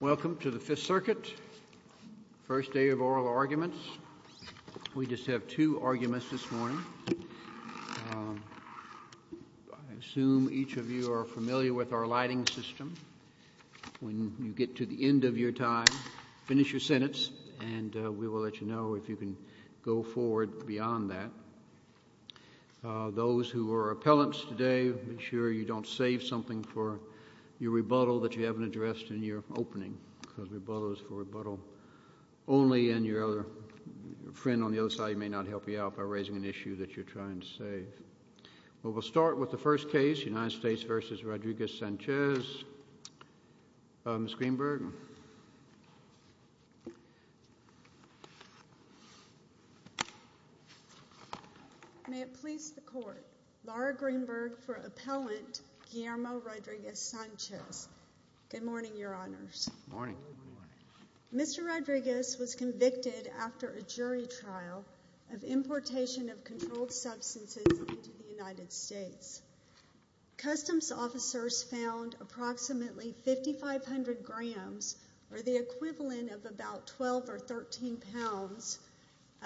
Welcome to the Fifth Circuit. First day of oral arguments. We just have two arguments this morning. I assume each of you are familiar with our lighting system. When you get to the end of your time, finish your sentence and we will let you know if you can go forward beyond that. Those who are appellants today, make sure you don't save something for your rebuttal that you haven't addressed in your opening, because rebuttal is for rebuttal only, and your other friend on the other side may not help you out by raising an issue that you're trying to save. Well, we'll start with the first case, United States v. Rodriguez-Sanchez, Ms. Greenberg. May it please the Court, Laura Greenberg for Appellant Guillermo Rodriguez-Sanchez. Good morning, Your Honors. Good morning. Mr. Rodriguez was convicted after a jury trial of importation of controlled substances into the United States. Customs officers found approximately 5,500 grams, or the equivalent of about 12 or 13 pounds,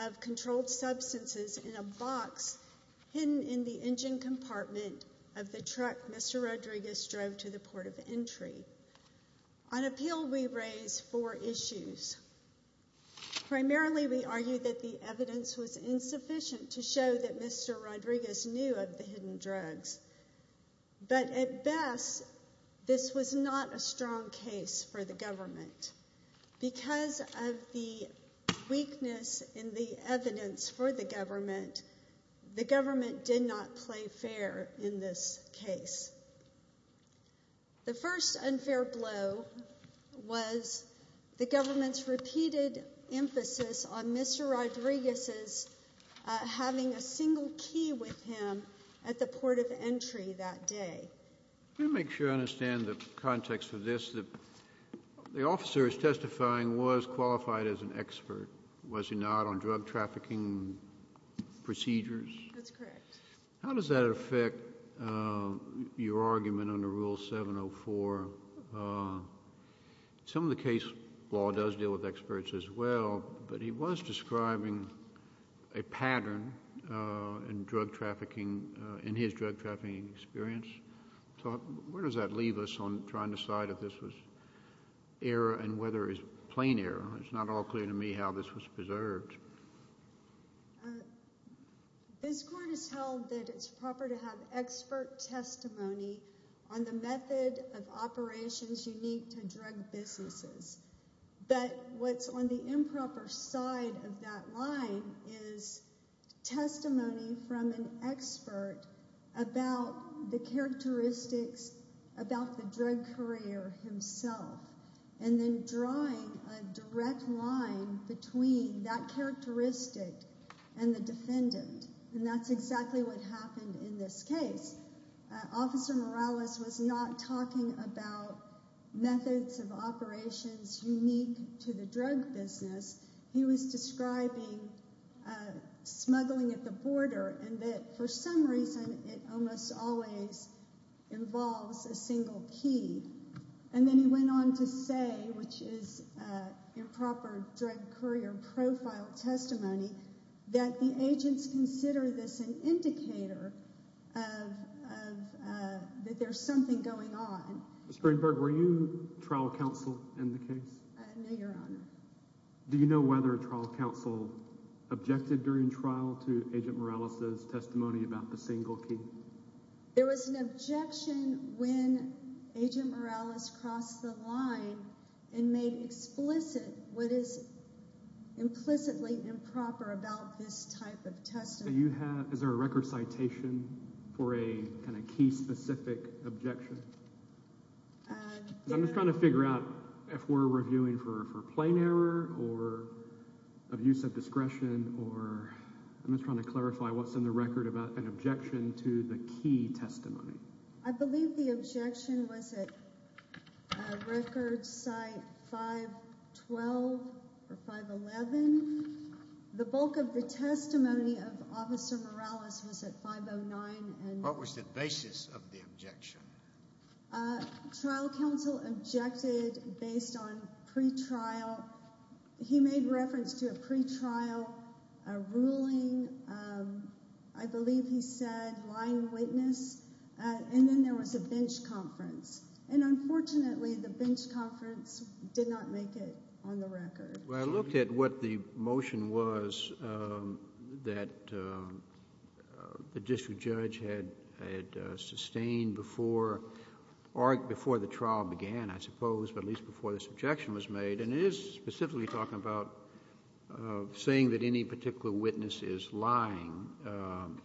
of controlled substances in a box hidden in the engine compartment of the truck Mr. Rodriguez drove to the port of entry. On appeal, we raise four issues. Primarily, we argue that the evidence was insufficient to show that Mr. Rodriguez knew of the hidden drugs, but at best, this was not a strong case for the government. Because of the weakness in the evidence for the government, the government did not play fair in this case. The first unfair blow was the government's repeated emphasis on Mr. Rodriguez's having a single key with him at the port of entry that day. Let me make sure I understand the context of this. The officer is testifying was qualified as an expert, was he not, on drug trafficking procedures? That's correct. How does that affect your argument under Rule 704? Some of the case law does deal with experts as well, but he was describing a pattern in drug trafficking, in his drug trafficking experience. So where does that leave us on trying to decide if this was error and whether it's plain error? It's not all clear to me how this was preserved. This court has held that it's proper to have expert testimony on the method of operations unique to drug businesses, but what's on the improper side of that line is testimony from an expert about the characteristics about the drug courier himself, and then drawing a direct line between that characteristic and the defendant, and that's exactly what happened in this case. Officer Morales was not talking about methods of operations unique to the drug business. He was describing smuggling at the border and that for some reason it almost always involves a single key, and then he went on to say, which is improper drug courier profile testimony, that the agents consider this an indicator that there's something going on. Ms. Greenberg, were you trial counsel in the case? No, Your Honor. Do you know whether trial counsel objected during trial to Agent Morales's testimony about the single key? There was an objection when Agent Morales crossed the line and made explicit what is implicitly improper about this type of testimony. Is there a record citation for a kind of key specific objection? I'm just trying to figure out if we're reviewing for plain error or abuse of discretion, or I'm just trying to clarify what's in the record about an objection to the key testimony. I believe the objection was at record site 512 or 511. The bulk of the testimony of Officer Morales was at 509. What was the basis of the objection? Trial counsel objected based on pre-trial. He made reference to a pre-trial ruling. I believe he said line witness, and then there was a bench conference. Unfortunately, the bench conference did not make it on the record. I looked at what the motion was that the district judge had sustained before the trial began, I suppose, but at least before this objection was made, and it is specifically talking about saying that any particular witness is lying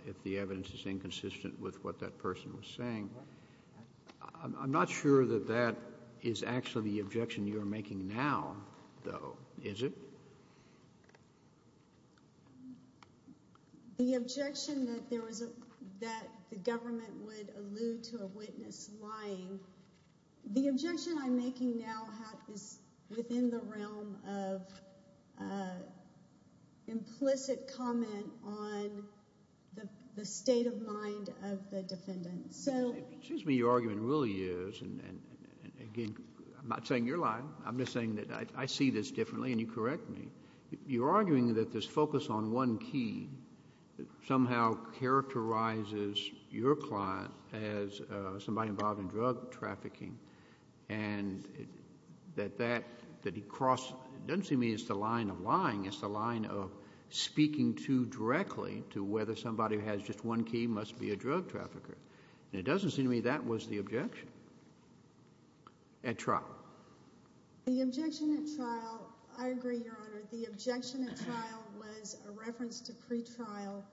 if the evidence is inconsistent with what that person was saying. I'm not sure that that is actually the objection you're making now, though, is it? The objection that the government would allude to a witness lying, the objection I'm making now is within the realm of implicit comment on the state of mind of the defendant. Excuse me, your argument really is, and again, I'm not saying you're lying. I'm just saying that I see this differently, and you correct me. You're arguing that this focus on one key somehow characterizes your client as somebody involved in drug trafficking, and that he crossed, it doesn't seem to me it's the line of lying. It's the line of speaking too directly to whether somebody who has just one key must be a drug trafficker, and it doesn't seem to me that was the objection at trial. The objection at trial, I agree, your honor. The objection at trial was a reference to pre-trial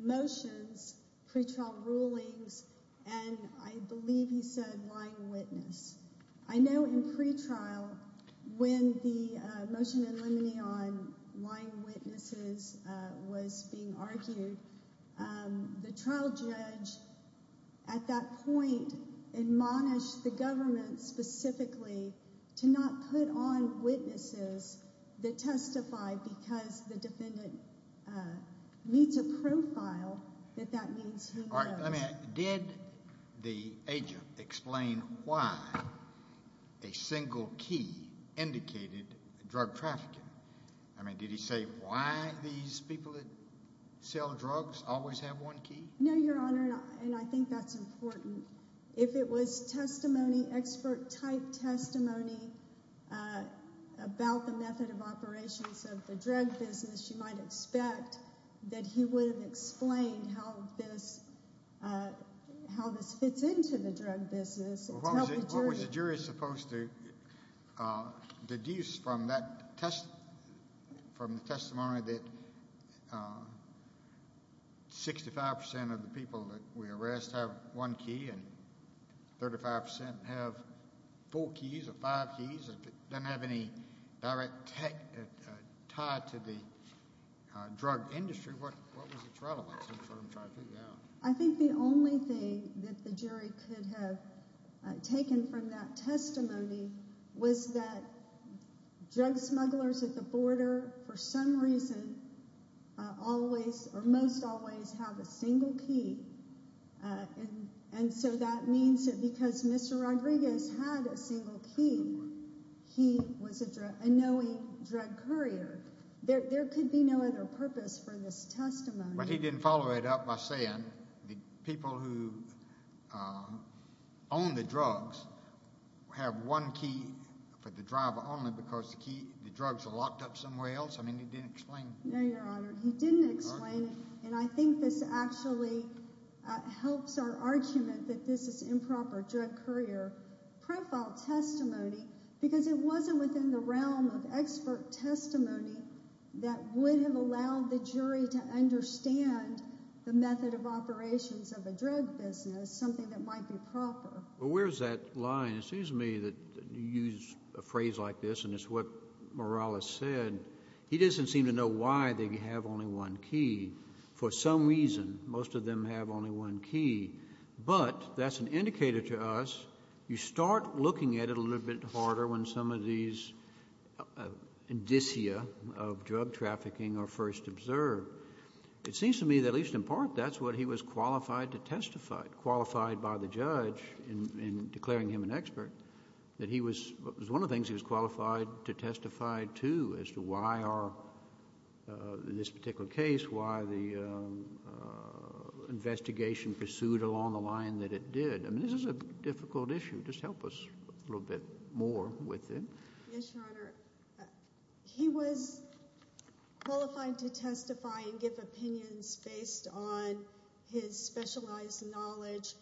motions, pre-trial rulings, and I believe he said lying witness. I know in pre-trial, when the motion in limine on lying witnesses was being argued, the trial judge at that point admonished the government specifically to not put on witnesses that testify because the defendant meets a profile that that means he knows. Did the agent explain why a single key indicated drug trafficking? I mean, did he say why these people that sell drugs always have one key? No, your honor, and I think that's important. If it was testimony, expert type testimony uh about the method of operations of the drug business, you might expect that he would have explained how this uh how this fits into the drug business. What was the jury supposed to uh deduce from that test from the testimony that uh 65 percent of the people that we arrest have one key and 35 percent have four keys or five keys? If it doesn't have any direct tie to the drug industry, what what was its relevance? I'm trying to figure out. I think the only thing that the jury could have taken from that testimony was that drug smugglers at the and so that means that because Mr. Rodriguez had a single key, he was a knowing drug courier. There could be no other purpose for this testimony, but he didn't follow it up by saying the people who own the drugs have one key for the driver only because the key the drugs are locked up somewhere else. I mean, he didn't explain. No, your honor, he didn't explain it, and I think this actually helps our argument that this is improper drug courier profile testimony because it wasn't within the realm of expert testimony that would have allowed the jury to understand the method of operations of a drug business, something that might be proper. But where's that line? It seems to me that you use a phrase like this, and it's what Morales said. He doesn't seem to know why they have only one key. For some reason, most of them have only one key, but that's an indicator to us. You start looking at it a little bit harder when some of these indicia of drug trafficking are first observed. It seems to me that at least in part, that's what he was qualified to testify, qualified by the judge in declaring him an expert, that he was... it was one of the why the investigation pursued along the line that it did. I mean, this is a difficult issue. Just help us a little bit more with it. Yes, your honor. He was qualified to testify and give opinions based on his specialized knowledge,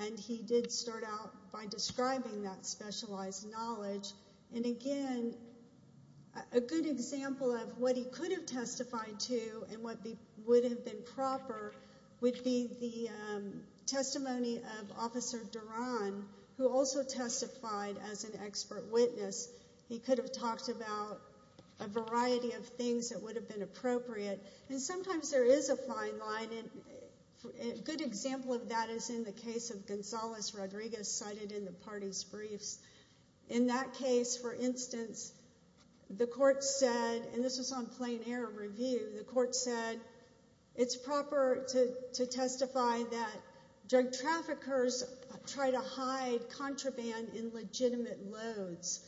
and he did start out by describing that specialized and what would have been proper would be the testimony of Officer Duran, who also testified as an expert witness. He could have talked about a variety of things that would have been appropriate, and sometimes there is a fine line, and a good example of that is in the case of Gonzales Rodriguez cited in the party's briefs. In that case, for instance, the court said, and this was on plain air review, the court said, it's proper to testify that drug traffickers try to hide contraband in legitimate loads,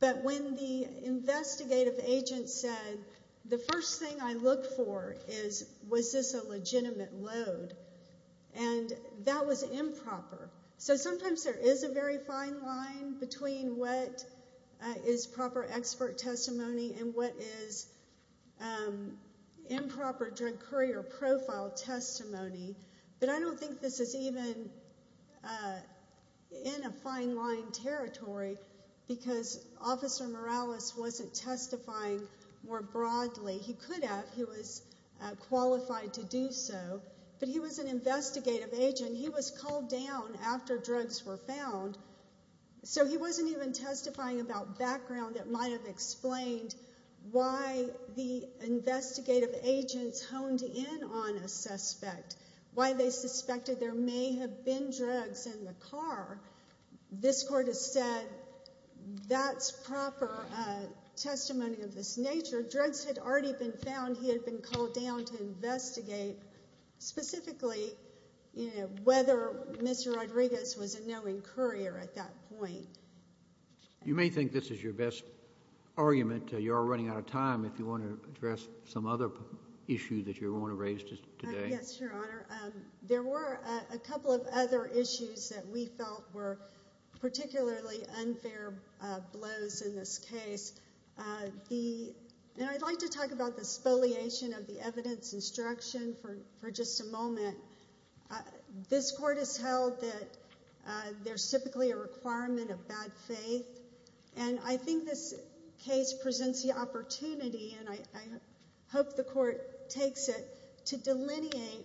but when the investigative agent said, the first thing I look for is, was this a legitimate load, and that was improper. So sometimes there is a very fine line between what is proper expert testimony and what is improper drug courier profile testimony, but I don't think this is even in a fine line territory because Officer Morales wasn't testifying more broadly. He could have. He was qualified to do so, but he was an investigative agent. He was called down after drugs were found, so he wasn't even testifying about background that might have explained why the investigative agents honed in on a suspect, why they suspected there may have been drugs in the car. This court has said that's proper testimony of this nature. Drugs had already been found. He had been called down to investigate specifically whether Mr. Rodriguez was a knowing courier at that point. You may think this is your best argument. You're running out of time. If you want to address some other issue that you want to raise today. Yes, Your Honor. There were a couple of other issues that we felt were particularly unfair blows in this case. I'd like to talk about the spoliation of the evidence instruction for just a moment. This court has held that there's typically a requirement of bad faith, and I think this case presents the opportunity, and I hope the court takes it, to delineate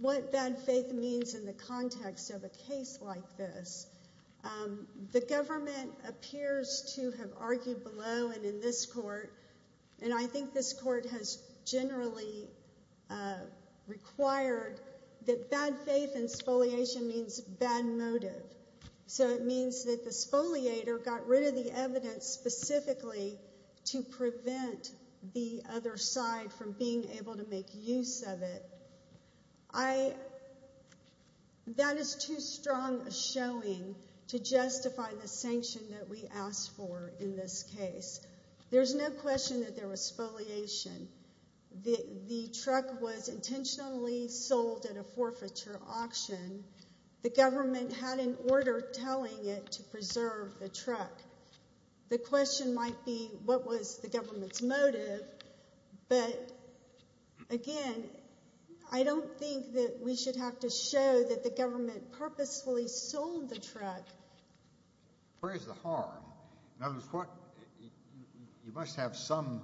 what bad faith means in the context of a case like this. The government appears to have argued below and in this court, and I think this court has generally required that bad faith and spoliation means bad motive, so it means that the spoliator got rid of the evidence specifically to prevent the other side from being able to make use of it. That is too strong a showing to justify the sanction that we asked for in this case. There's no question that there was spoliation. The truck was intentionally sold at a forfeiture auction. The government had an order telling it to preserve the truck. The question might be, what was the government's motive? But again, I don't think that we should have to show that the government purposefully sold the truck. Where's the harm? In other words, you must have some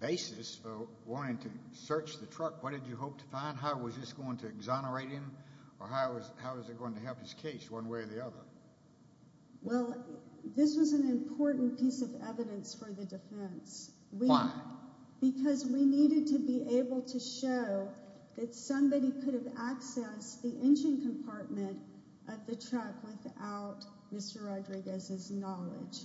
basis for wanting to search the truck. What did you hope to find? How was this going to exonerate him, or how is it going to help this case one way or the other? Well, this was an important piece of evidence for the defense. Why? Because we needed to be able to show that somebody could have accessed the engine compartment of the truck without Mr. Rodriguez's knowledge,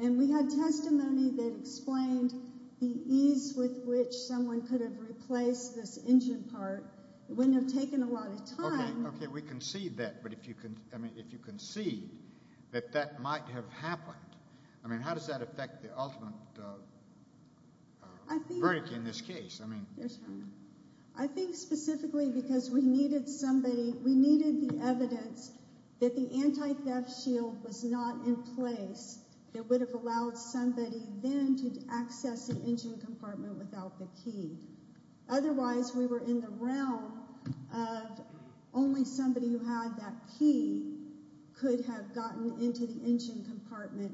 and we had testimony that explained the ease with which someone could have replaced this engine part. It wouldn't have taken a lot of time. Okay, we can see that, but if you can see that that might have happened, I mean, how does that affect the ultimate verdict in this case? I think specifically because we needed the evidence that the anti-theft shield was not in place that would have allowed somebody then to access the engine compartment without the key could have gotten into the engine compartment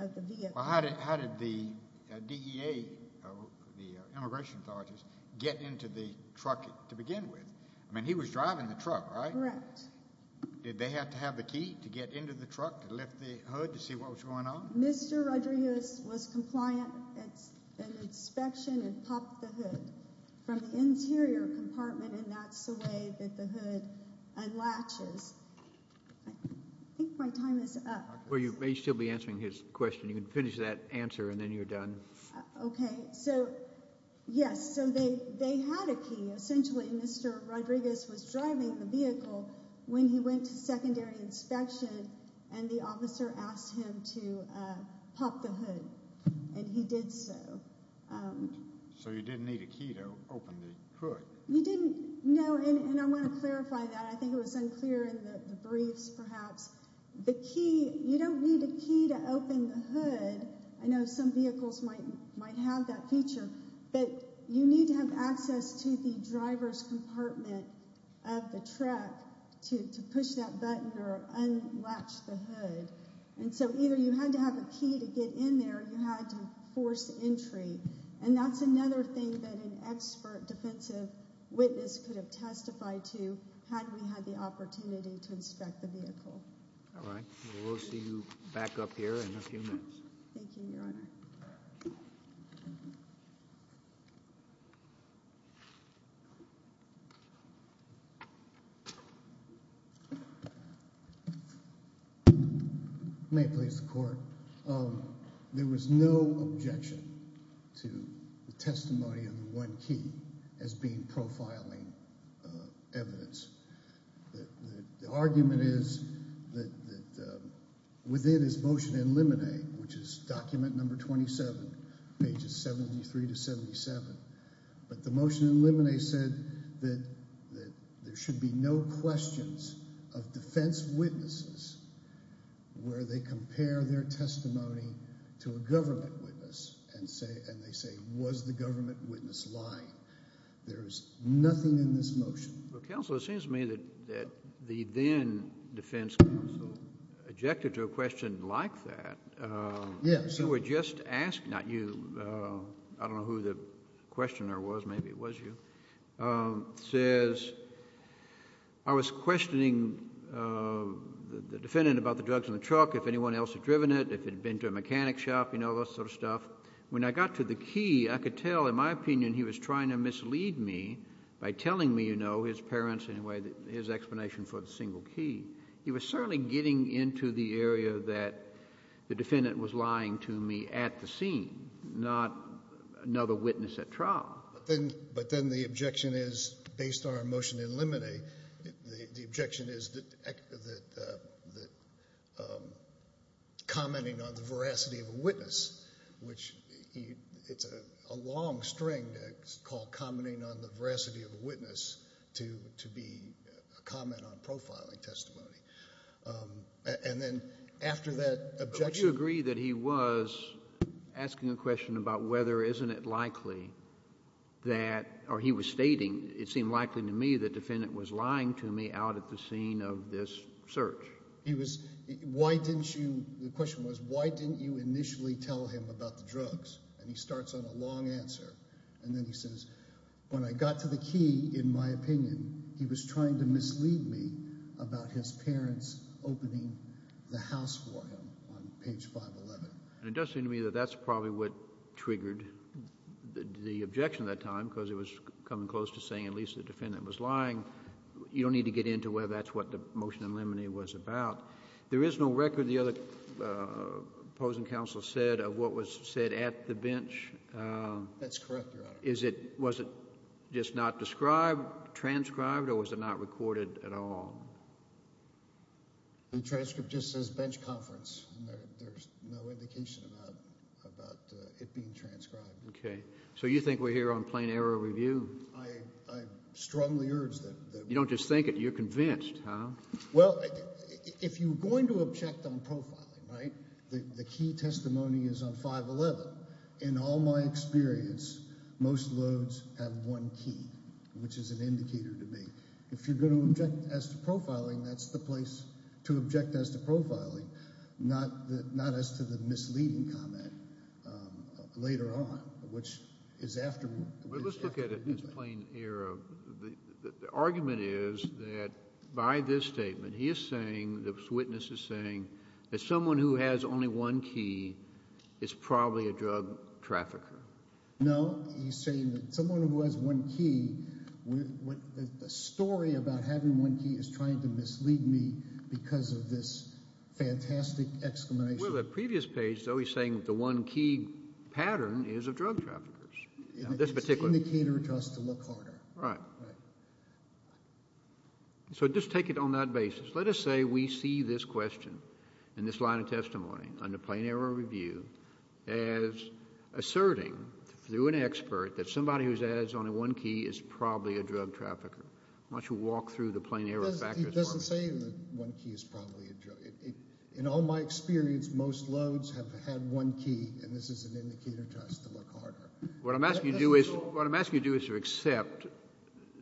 of the vehicle. How did the DEA, the immigration authorities, get into the truck to begin with? I mean, he was driving the truck, right? Correct. Did they have to have the key to get into the truck to lift the hood to see what was going on? Mr. Rodriguez was compliant at an inspection and popped the hood from the hood. I think my time is up. Well, you may still be answering his question. You can finish that answer and then you're done. Okay, so yes, so they had a key. Essentially, Mr. Rodriguez was driving the vehicle when he went to secondary inspection and the officer asked him to pop the hood, and he did so. So you didn't need a key to open the hood? You didn't, no, and I want to perhaps, the key, you don't need a key to open the hood. I know some vehicles might have that feature, but you need to have access to the driver's compartment of the truck to push that button or unlatch the hood, and so either you had to have a key to get in there or you had to force entry, and that's another thing that an expert defensive witness could have testified to had we had the opportunity to inspect the vehicle. All right, well, we'll see you back up here in a few minutes. Thank you, Your Honor. May it please the Court. There was no objection to the testimony of the one key as being profiling evidence. The argument is that within his motion in limine, which is document number 27, pages 73 to 77, but the motion in limine said that there should be no questions of defense witnesses where they compare their testimony to a government witness and they say, was the government witness lying? There's nothing in this motion. Well, Counselor, it seems to me that the then defense counsel objected to a question like that. Yes. You were just asked, not you, I don't know who the questioner was, maybe it was you, says, I was questioning the defendant about the drugs in the truck, if anyone else had driven it, if it had been to a I could tell, in my opinion, he was trying to mislead me by telling me, you know, his parents, in a way, his explanation for the single key. He was certainly getting into the area that the defendant was lying to me at the scene, not another witness at trial. But then the objection is, based on our motion in limine, the objection is that commenting on the veracity of a long string, called commenting on the veracity of a witness, to be a comment on profiling testimony. And then after that objection... But would you agree that he was asking a question about whether, isn't it likely that, or he was stating, it seemed likely to me the defendant was lying to me out at the scene of this search? He was, why didn't you, the question was, why didn't you initially tell him about the drugs? And he starts on a long answer, and then he says, when I got to the key, in my opinion, he was trying to mislead me about his parents opening the house for him on page 511. And it does seem to me that that's probably what triggered the objection that time, because it was coming close to saying at least the defendant was lying. You don't need to get into whether that's what the motion in limine was about. There is no record, the other opposing counsel said, of what was said at the bench? That's correct, Your Honor. Is it, was it just not described, transcribed, or was it not recorded at all? The transcript just says bench conference, and there's no indication about it being transcribed. Okay, so you think we're here on plain error review? I strongly urge that. You don't just think it, you're convinced, huh? Well, if you're going to object on profiling, right, the key testimony is on 511. In all my experience, most loads have one key, which is an indicator to me. If you're going to object as to profiling, that's the place to object as to profiling, not the, not as to the misleading comment later on, which is after. Let's look at it as plain error. The argument is that by this statement, he is saying, this witness is saying, that someone who has only one key is probably a drug trafficker. No, he's saying that someone who has one key, the story about having one key is trying to mislead me because of this fantastic exclamation. Well, the previous page, though, he's saying the one key pattern is a drug traffickers. This particular. It's an indicator to us to look harder. Right. Right. So just take it on that basis. Let us say we see this question in this line of testimony under plain error review as asserting through an expert that somebody who's ads on a one key is probably a drug trafficker. Why don't you walk through the plain error factors? He doesn't say the one key is probably a drug. In all my experience, most loads have had one key, and this is an indicator to us to look harder. What I'm asking you to do is, what I'm asking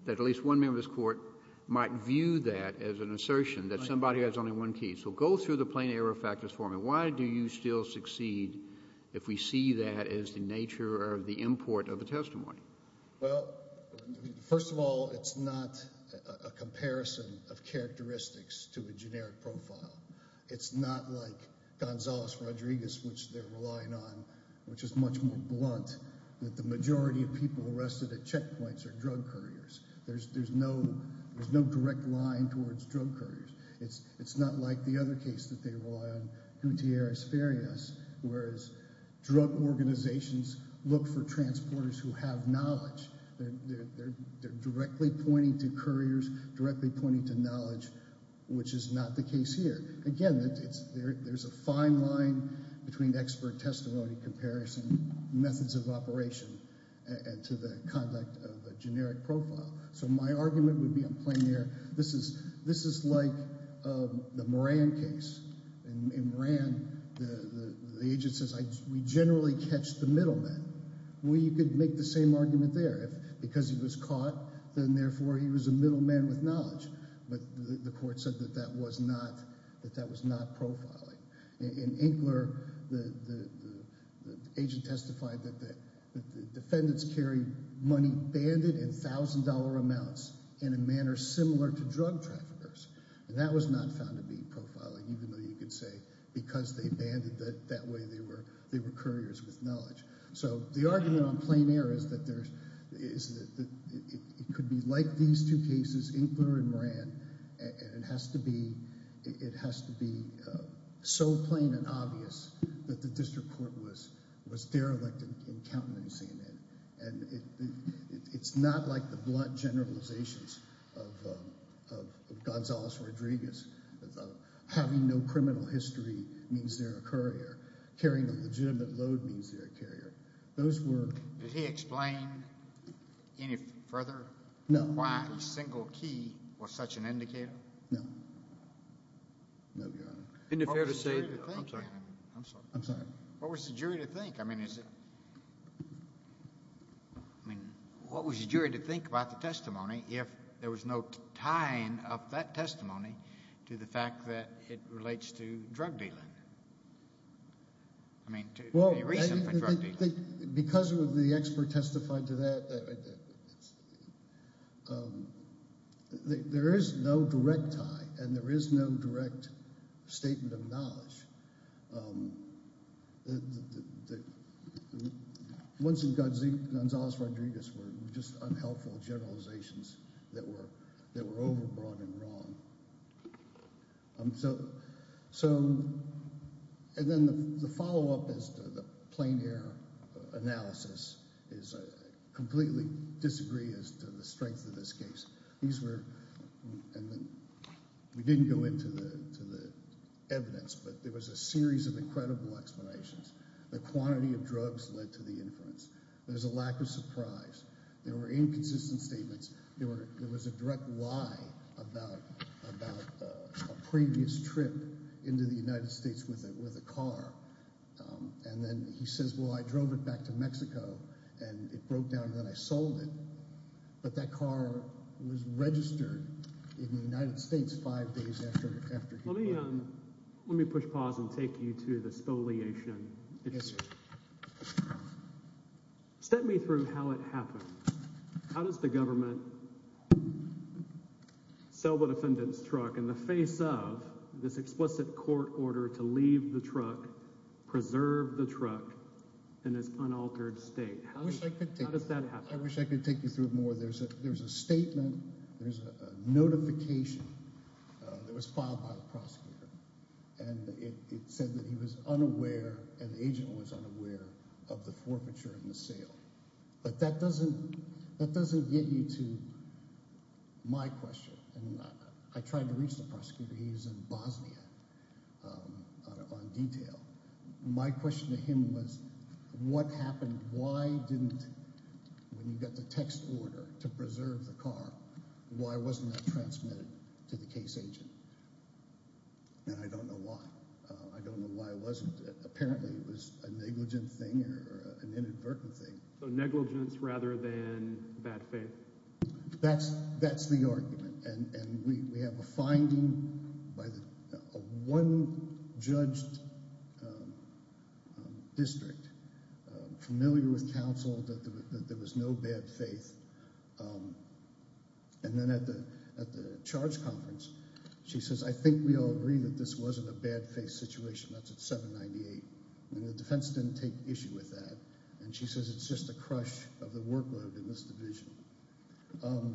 that at least one member of this court might view that as an assertion that somebody has only one key. So go through the plain error factors for me. Why do you still succeed if we see that as the nature of the import of the testimony? Well, first of all, it's not a comparison of characteristics to a generic profile. It's not like Gonzalez Rodriguez, which they're relying on, which is much more blunt, that the majority of people arrested at checkpoints are drug couriers. There's no direct line towards drug couriers. It's not like the other case that they rely on, Gutierrez Farias, whereas drug organizations look for transporters who have knowledge. They're directly pointing to couriers, directly pointing to knowledge, which is not the case here. Again, there's a fine line between expert testimony comparison methods of operation to the conduct of a generic profile. So my argument would be on plain error. This is like the Moran case. In Moran, the agent says, we generally catch the middleman. Well, you could make the same argument there. If because he was caught, then therefore he was a middleman with that was not profiling. In Inkler, the agent testified that the defendants carried money banded in $1,000 amounts in a manner similar to drug traffickers, and that was not found to be profiling, even though you could say because they banded that that way they were couriers with knowledge. So the argument on plain error is that it could be like these two cases, Inkler and Moran, and it has to be so plain and obvious that the district court was was derelict in countenancing it, and it's not like the blunt generalizations of Gonzales-Rodriguez. Having no criminal history means they're a courier. Carrying a legitimate load means they're a carrier. Did he explain any further why a single key was such an indicator? No. No, Your Honor. What was the jury to think? I mean, what was the jury to think about the testimony if there was no tying of that testimony to the fact that it relates to drug dealing? I mean, to the recent drug dealing. Well, because of the expert testified to that, there is no direct tie, and there is no direct statement of knowledge. Once in Gonzales-Rodriguez were just unhelpful generalizations that were that were overbroad and wrong. And then the follow-up is the plain error analysis is I completely disagree as to the strength of this case. These were, and then we didn't go into the evidence, but there was a series of incredible explanations. The quantity of drugs led to the inference. There's a lack of surprise. There were inconsistent statements. There was a direct lie about a previous trip into the United States with a car. And then he says, well, I drove it back to Mexico, and it broke down, and then I sold it. But that car was registered in the United States five days after. Let me push pause and take you to the spoliation. Step me through how it happened. How does the government sell the defendant's truck in the face of this explicit court order to leave the truck, preserve the truck in this unaltered state? How does that happen? I wish I could take you through more. There's a statement, there's a notification that was filed by the prosecutor, and it said that he was unaware, and the agent was unaware of the forfeiture and the sale. But that doesn't get you to my question. I tried to reach the prosecutor. He was in Bosnia on detail. My question to him was, what happened? Why didn't, when you got the text order to preserve the car, why wasn't that transmitted to the case agent? And I don't know why. I don't know why it wasn't. Apparently it was a negligent thing or an inadvertent thing. So negligence rather than bad faith. That's the argument. And we have a finding by a one-judged district, familiar with counsel, that there was no bad faith. And then at the charge conference, she says, I think we all agree that this wasn't a bad faith situation. That's at 798. And the defense didn't take issue with that. And she says it's just a misdivision.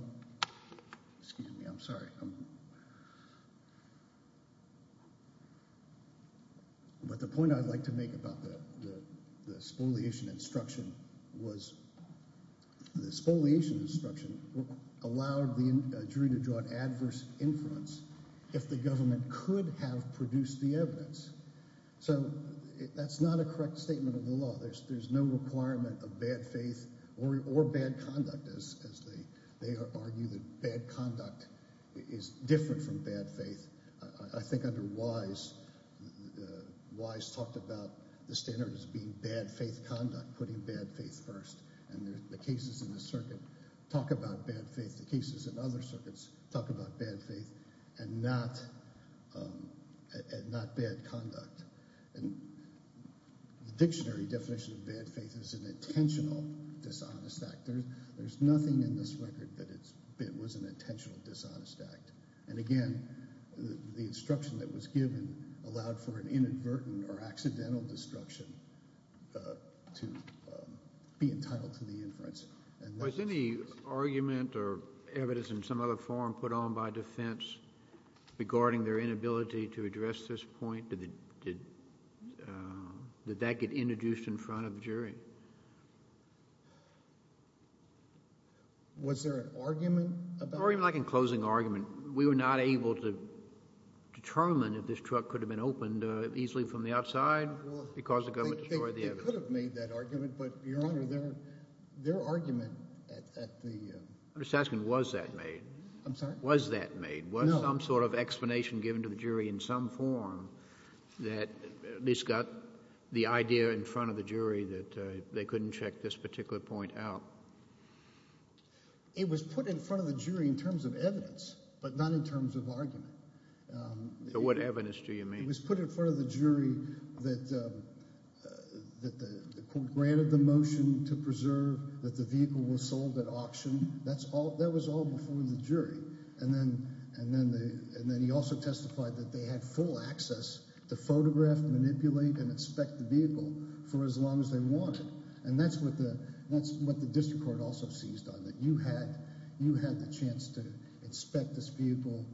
Excuse me. I'm sorry. But the point I'd like to make about the spoliation instruction was the spoliation instruction allowed the jury to draw an adverse inference if the government could have produced the evidence. So that's not a correct statement of the law. There's no requirement of bad faith or bad conduct as they argue that bad conduct is different from bad faith. I think under Wise, Wise talked about the standards being bad faith conduct, putting bad faith first. And the cases in the circuit talk about bad faith. The cases in other circuits talk about bad faith and not bad conduct. And the dictionary definition of bad faith is an intentional dishonest act. There's nothing in this record that it was an intentional dishonest act. And again, the instruction that was given allowed for an inadvertent or accidental destruction to be entitled to the inference. Was any argument or evidence in some other form put on by defense regarding their inability to address this point? Did that get introduced in front of the jury? Was there an argument? Or even like a closing argument. We were not able to determine if this could have made that argument, but your honor, their argument at the. I'm just asking was that made? I'm sorry? Was that made? Was some sort of explanation given to the jury in some form that at least got the idea in front of the jury that they couldn't check this particular point out? It was put in front of the jury in terms of evidence, but not in terms of argument. So what evidence do you mean? It was put in front of the jury that the court granted the motion to preserve that the vehicle was sold at auction. That was all before the jury. And then he also testified that they had full access to photograph, manipulate, and inspect the vehicle for as long as they wanted. And that's what the district court also seized on. That you had the chance to inspect this vehicle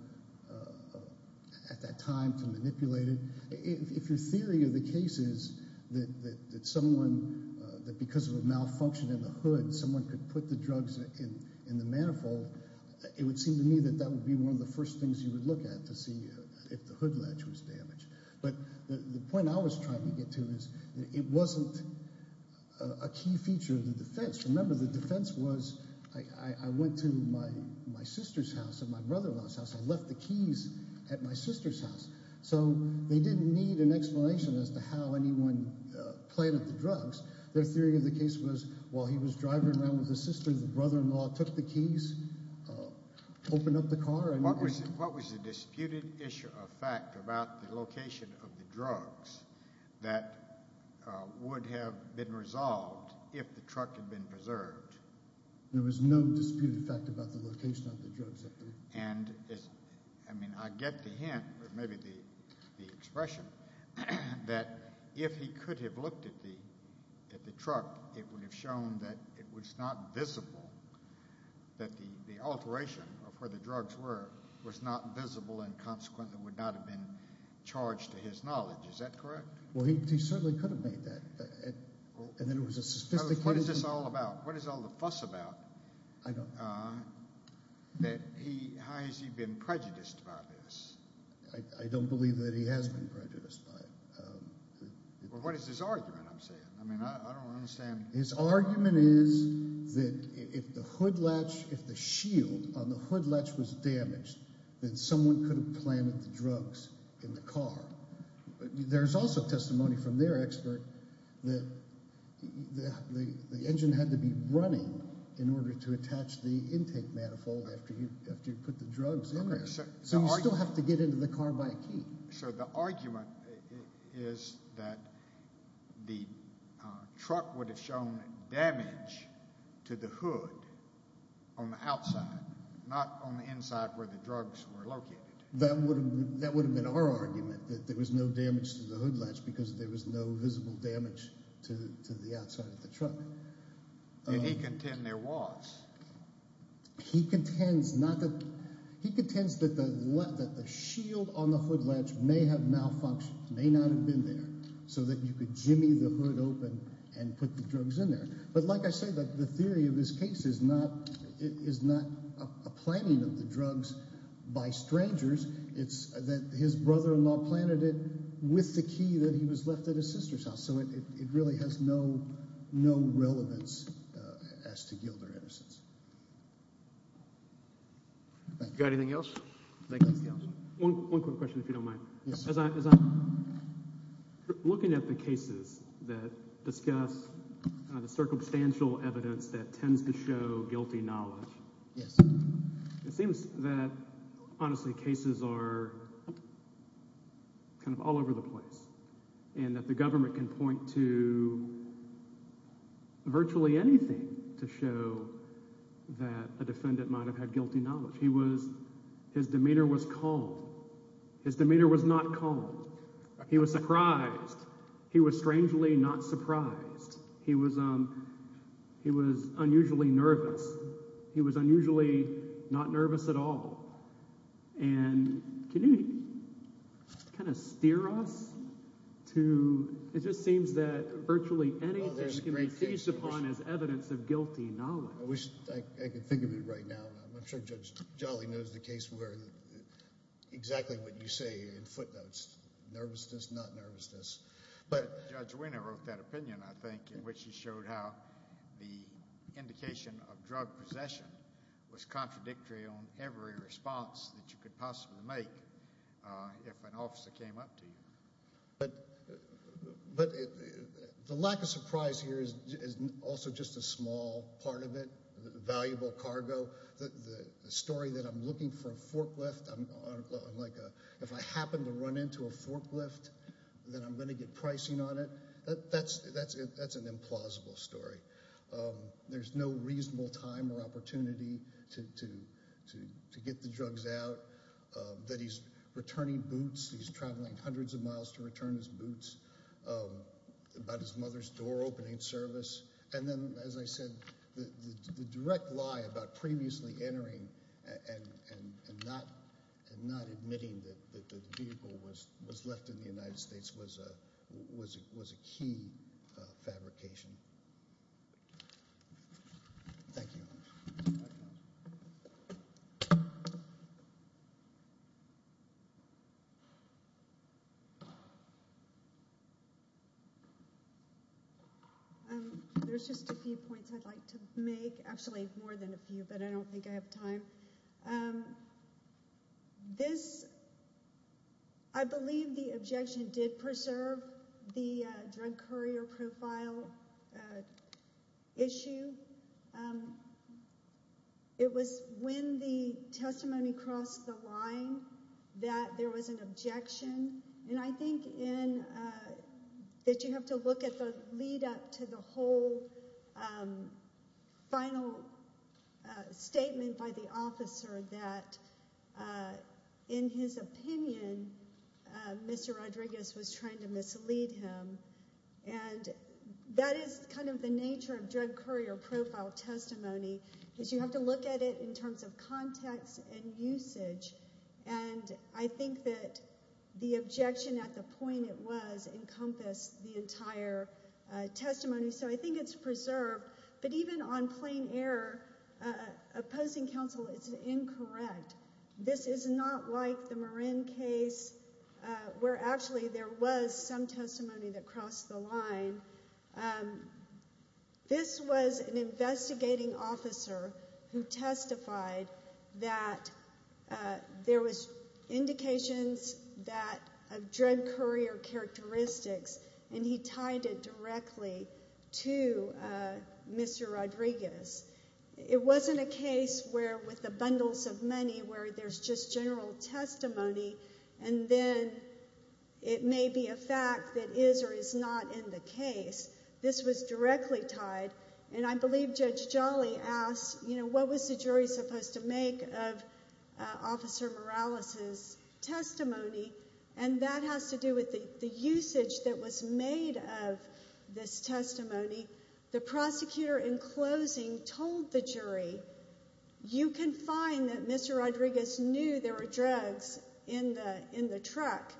at that time to manipulate it. If your theory of the case is that someone, that because of a malfunction in the hood, someone could put the drugs in the manifold, it would seem to me that that would be one of the first things you would look at to see if the hood latch was damaged. But the point I was trying to get to is it wasn't a key feature of the defense. Remember the defense was I went to my sister's house and my brother-in-law's house. I left the keys at my sister's house. So they didn't need an explanation as to how anyone planted the drugs. Their theory of the case was while he was driving around with his sister, the brother-in-law took the keys, opened up the car. What was the disputed issue of fact about the location of the drugs that would have been resolved if the truck had been preserved? There was no disputed fact about the location of the drugs up there. And I mean I get the hint or maybe the expression that if he could have looked at the truck, it would have shown that it was not visible, that the alteration of where the drugs were was not visible and consequently would not have been charged to his knowledge. Is that correct? Well he certainly could have made that. And then there was a suspicion. What is this all about? What is all the fuss about? I don't know. That he, how has he been prejudiced about this? I don't believe that he has been prejudiced by it. Well what is his argument I'm saying? I mean I don't understand. His argument is that if the hood latch, if the shield on the hood latch was damaged, then someone could have planted the drugs in the car. There's also testimony from their expert that the engine had to be running in order to attach the intake manifold after you put the drugs in there. So you still have to get into the car by a key. So the argument is that the truck would have shown damage to the hood on the outside, not on the inside where the drugs were located. That would have been our argument that there was no damage to the hood latch because there was no visible damage to the shield on the hood latch may have malfunctioned, may not have been there, so that you could jimmy the hood open and put the drugs in there. But like I said that the theory of this case is not it is not a planting of the drugs by strangers. It's that his brother-in-law planted it with the key that he was left at his sister's house. So it really has no relevance as to Gilder Edison's. You got anything else? One quick question if you don't mind. As I'm looking at the cases that discuss the circumstantial evidence that tends to show guilty knowledge. Yes. It seems that honestly cases are kind of all over the place and that the government can point to that a defendant might have had guilty knowledge. His demeanor was calm. His demeanor was not calm. He was surprised. He was strangely not surprised. He was unusually nervous. He was unusually not nervous at all. And can you kind of steer us to it just seems that virtually anything can be seized upon as evidence of guilty knowledge. I wish I could think of it right now. I'm sure Judge Jolly knows the case where exactly what you say in footnotes. Nervousness, not nervousness. But Judge Wiener wrote that opinion I think in which he showed how the indication of drug possession was contradictory on every response that you could possibly make if an officer came up to you. But the lack of surprise here is also just a small part of it. Valuable cargo. The story that I'm looking for a forklift. If I happen to run into a forklift then I'm going to get pricing on it. That's an implausible story. There's no reasonable time or opportunity to get the drugs out. That he's returning boots. He's traveling hundreds of miles to return his boots. About his mother's door opening service. And then as I said the direct lie about previously entering and not admitting that the vehicle was left in the vehicle. There's just a few points I'd like to make. Actually more than a few but I don't think I have time. This I believe the objection did preserve the drug courier profile issue. It was when the testimony crossed the line that there was an objection. And I think in that you have to look at the lead up to the whole final statement by the officer that in his opinion Mr. Rodriguez was trying to mislead him and that is kind of the nature of drug courier profile testimony. Because you have to look at it in terms of context and usage and I think that the objection at the point it was encompassed the entire testimony. So I think it's preserved but even on plain air opposing counsel is incorrect. This is not like the Marin case where actually there was some testimony that crossed the line. This was an investigating officer who testified that there was indications that a drug courier characteristics and he tied it directly to Mr. Rodriguez. It wasn't a case where with bundles of money where there's just general testimony and then it may be a fact that is or is not in the case. This was directly tied and I believe Judge Jolly asked you know what was the jury supposed to make of Officer Morales's testimony and that has to do with the usage that was made of this testimony. The prosecutor in closing told the jury you can find that Mr. Rodriguez knew there were drugs in the truck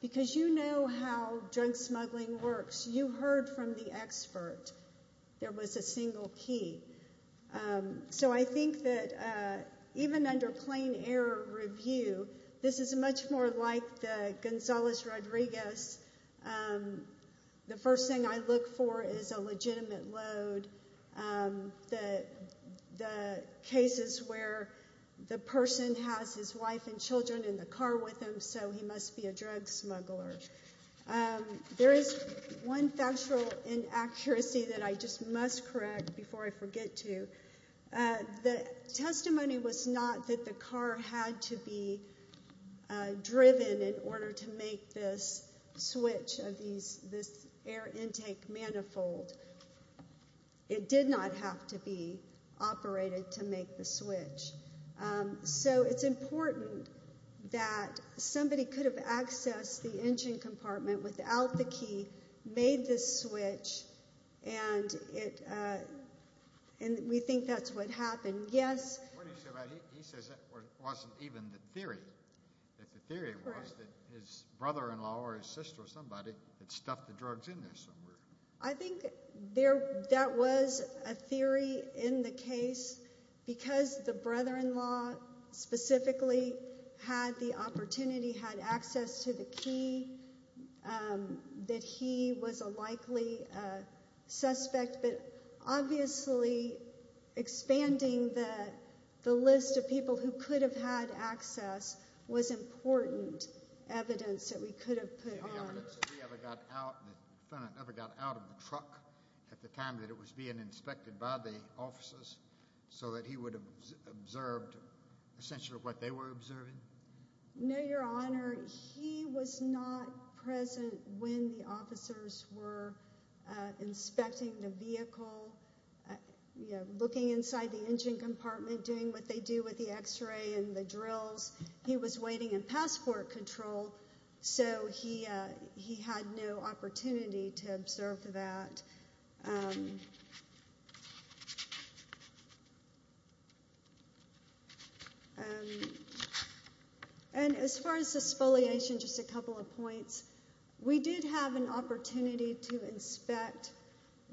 because you know how drug smuggling works. You heard from the expert. There was a single key. So I think that even under plain air review this is much more like the Gonzalez-Rodriguez. The first thing I look for is a legitimate load. The cases where the person has his wife and children in the car with him so he must be a drug smuggler. There is one factual inaccuracy that I just must correct before I forget to. The testimony was not that the car had to be driven in order to make this switch of these this air intake manifold. It did not have to be operated to make the switch. So it's important that somebody could have accessed the engine compartment without the key made this switch and it and we think that's what happened. Yes. What do you say about he says that wasn't even the theory. If the theory was that his brother-in-law or his sister or somebody that stuffed the drugs in there somewhere. I think there that was a theory in the case because the brother-in-law specifically had the opportunity had access to the key um that he was a likely uh suspect but obviously expanding the the list of people who could have had access was important evidence that we could have put on. Any evidence that he ever got out that ever got out of the truck at the time that it was being inspected by the officers so that he would have observed essentially what they were observing? No your honor he was not present when the officers were inspecting the vehicle you know looking inside the engine compartment doing what they do with the x-ray and the drills. He was waiting in passport control so he uh he had no opportunity to observe that. And as far as the spoliation just a couple of points. We did have an opportunity to inspect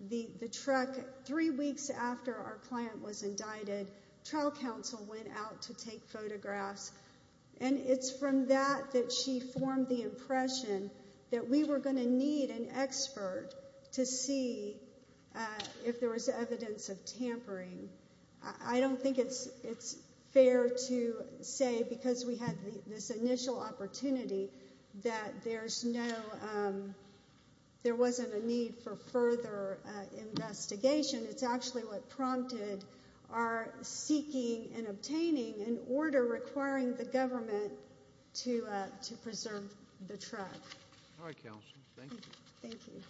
the the truck three weeks after our client was indicted. Trial counsel went out to take form the impression that we were going to need an expert to see if there was evidence of tampering. I don't think it's it's fair to say because we had this initial opportunity that there's no um there wasn't a need for further investigation. It's actually what prompted our seeking and obtaining an order requiring the government to uh to preserve the truck. All right counsel thank you. Thank you.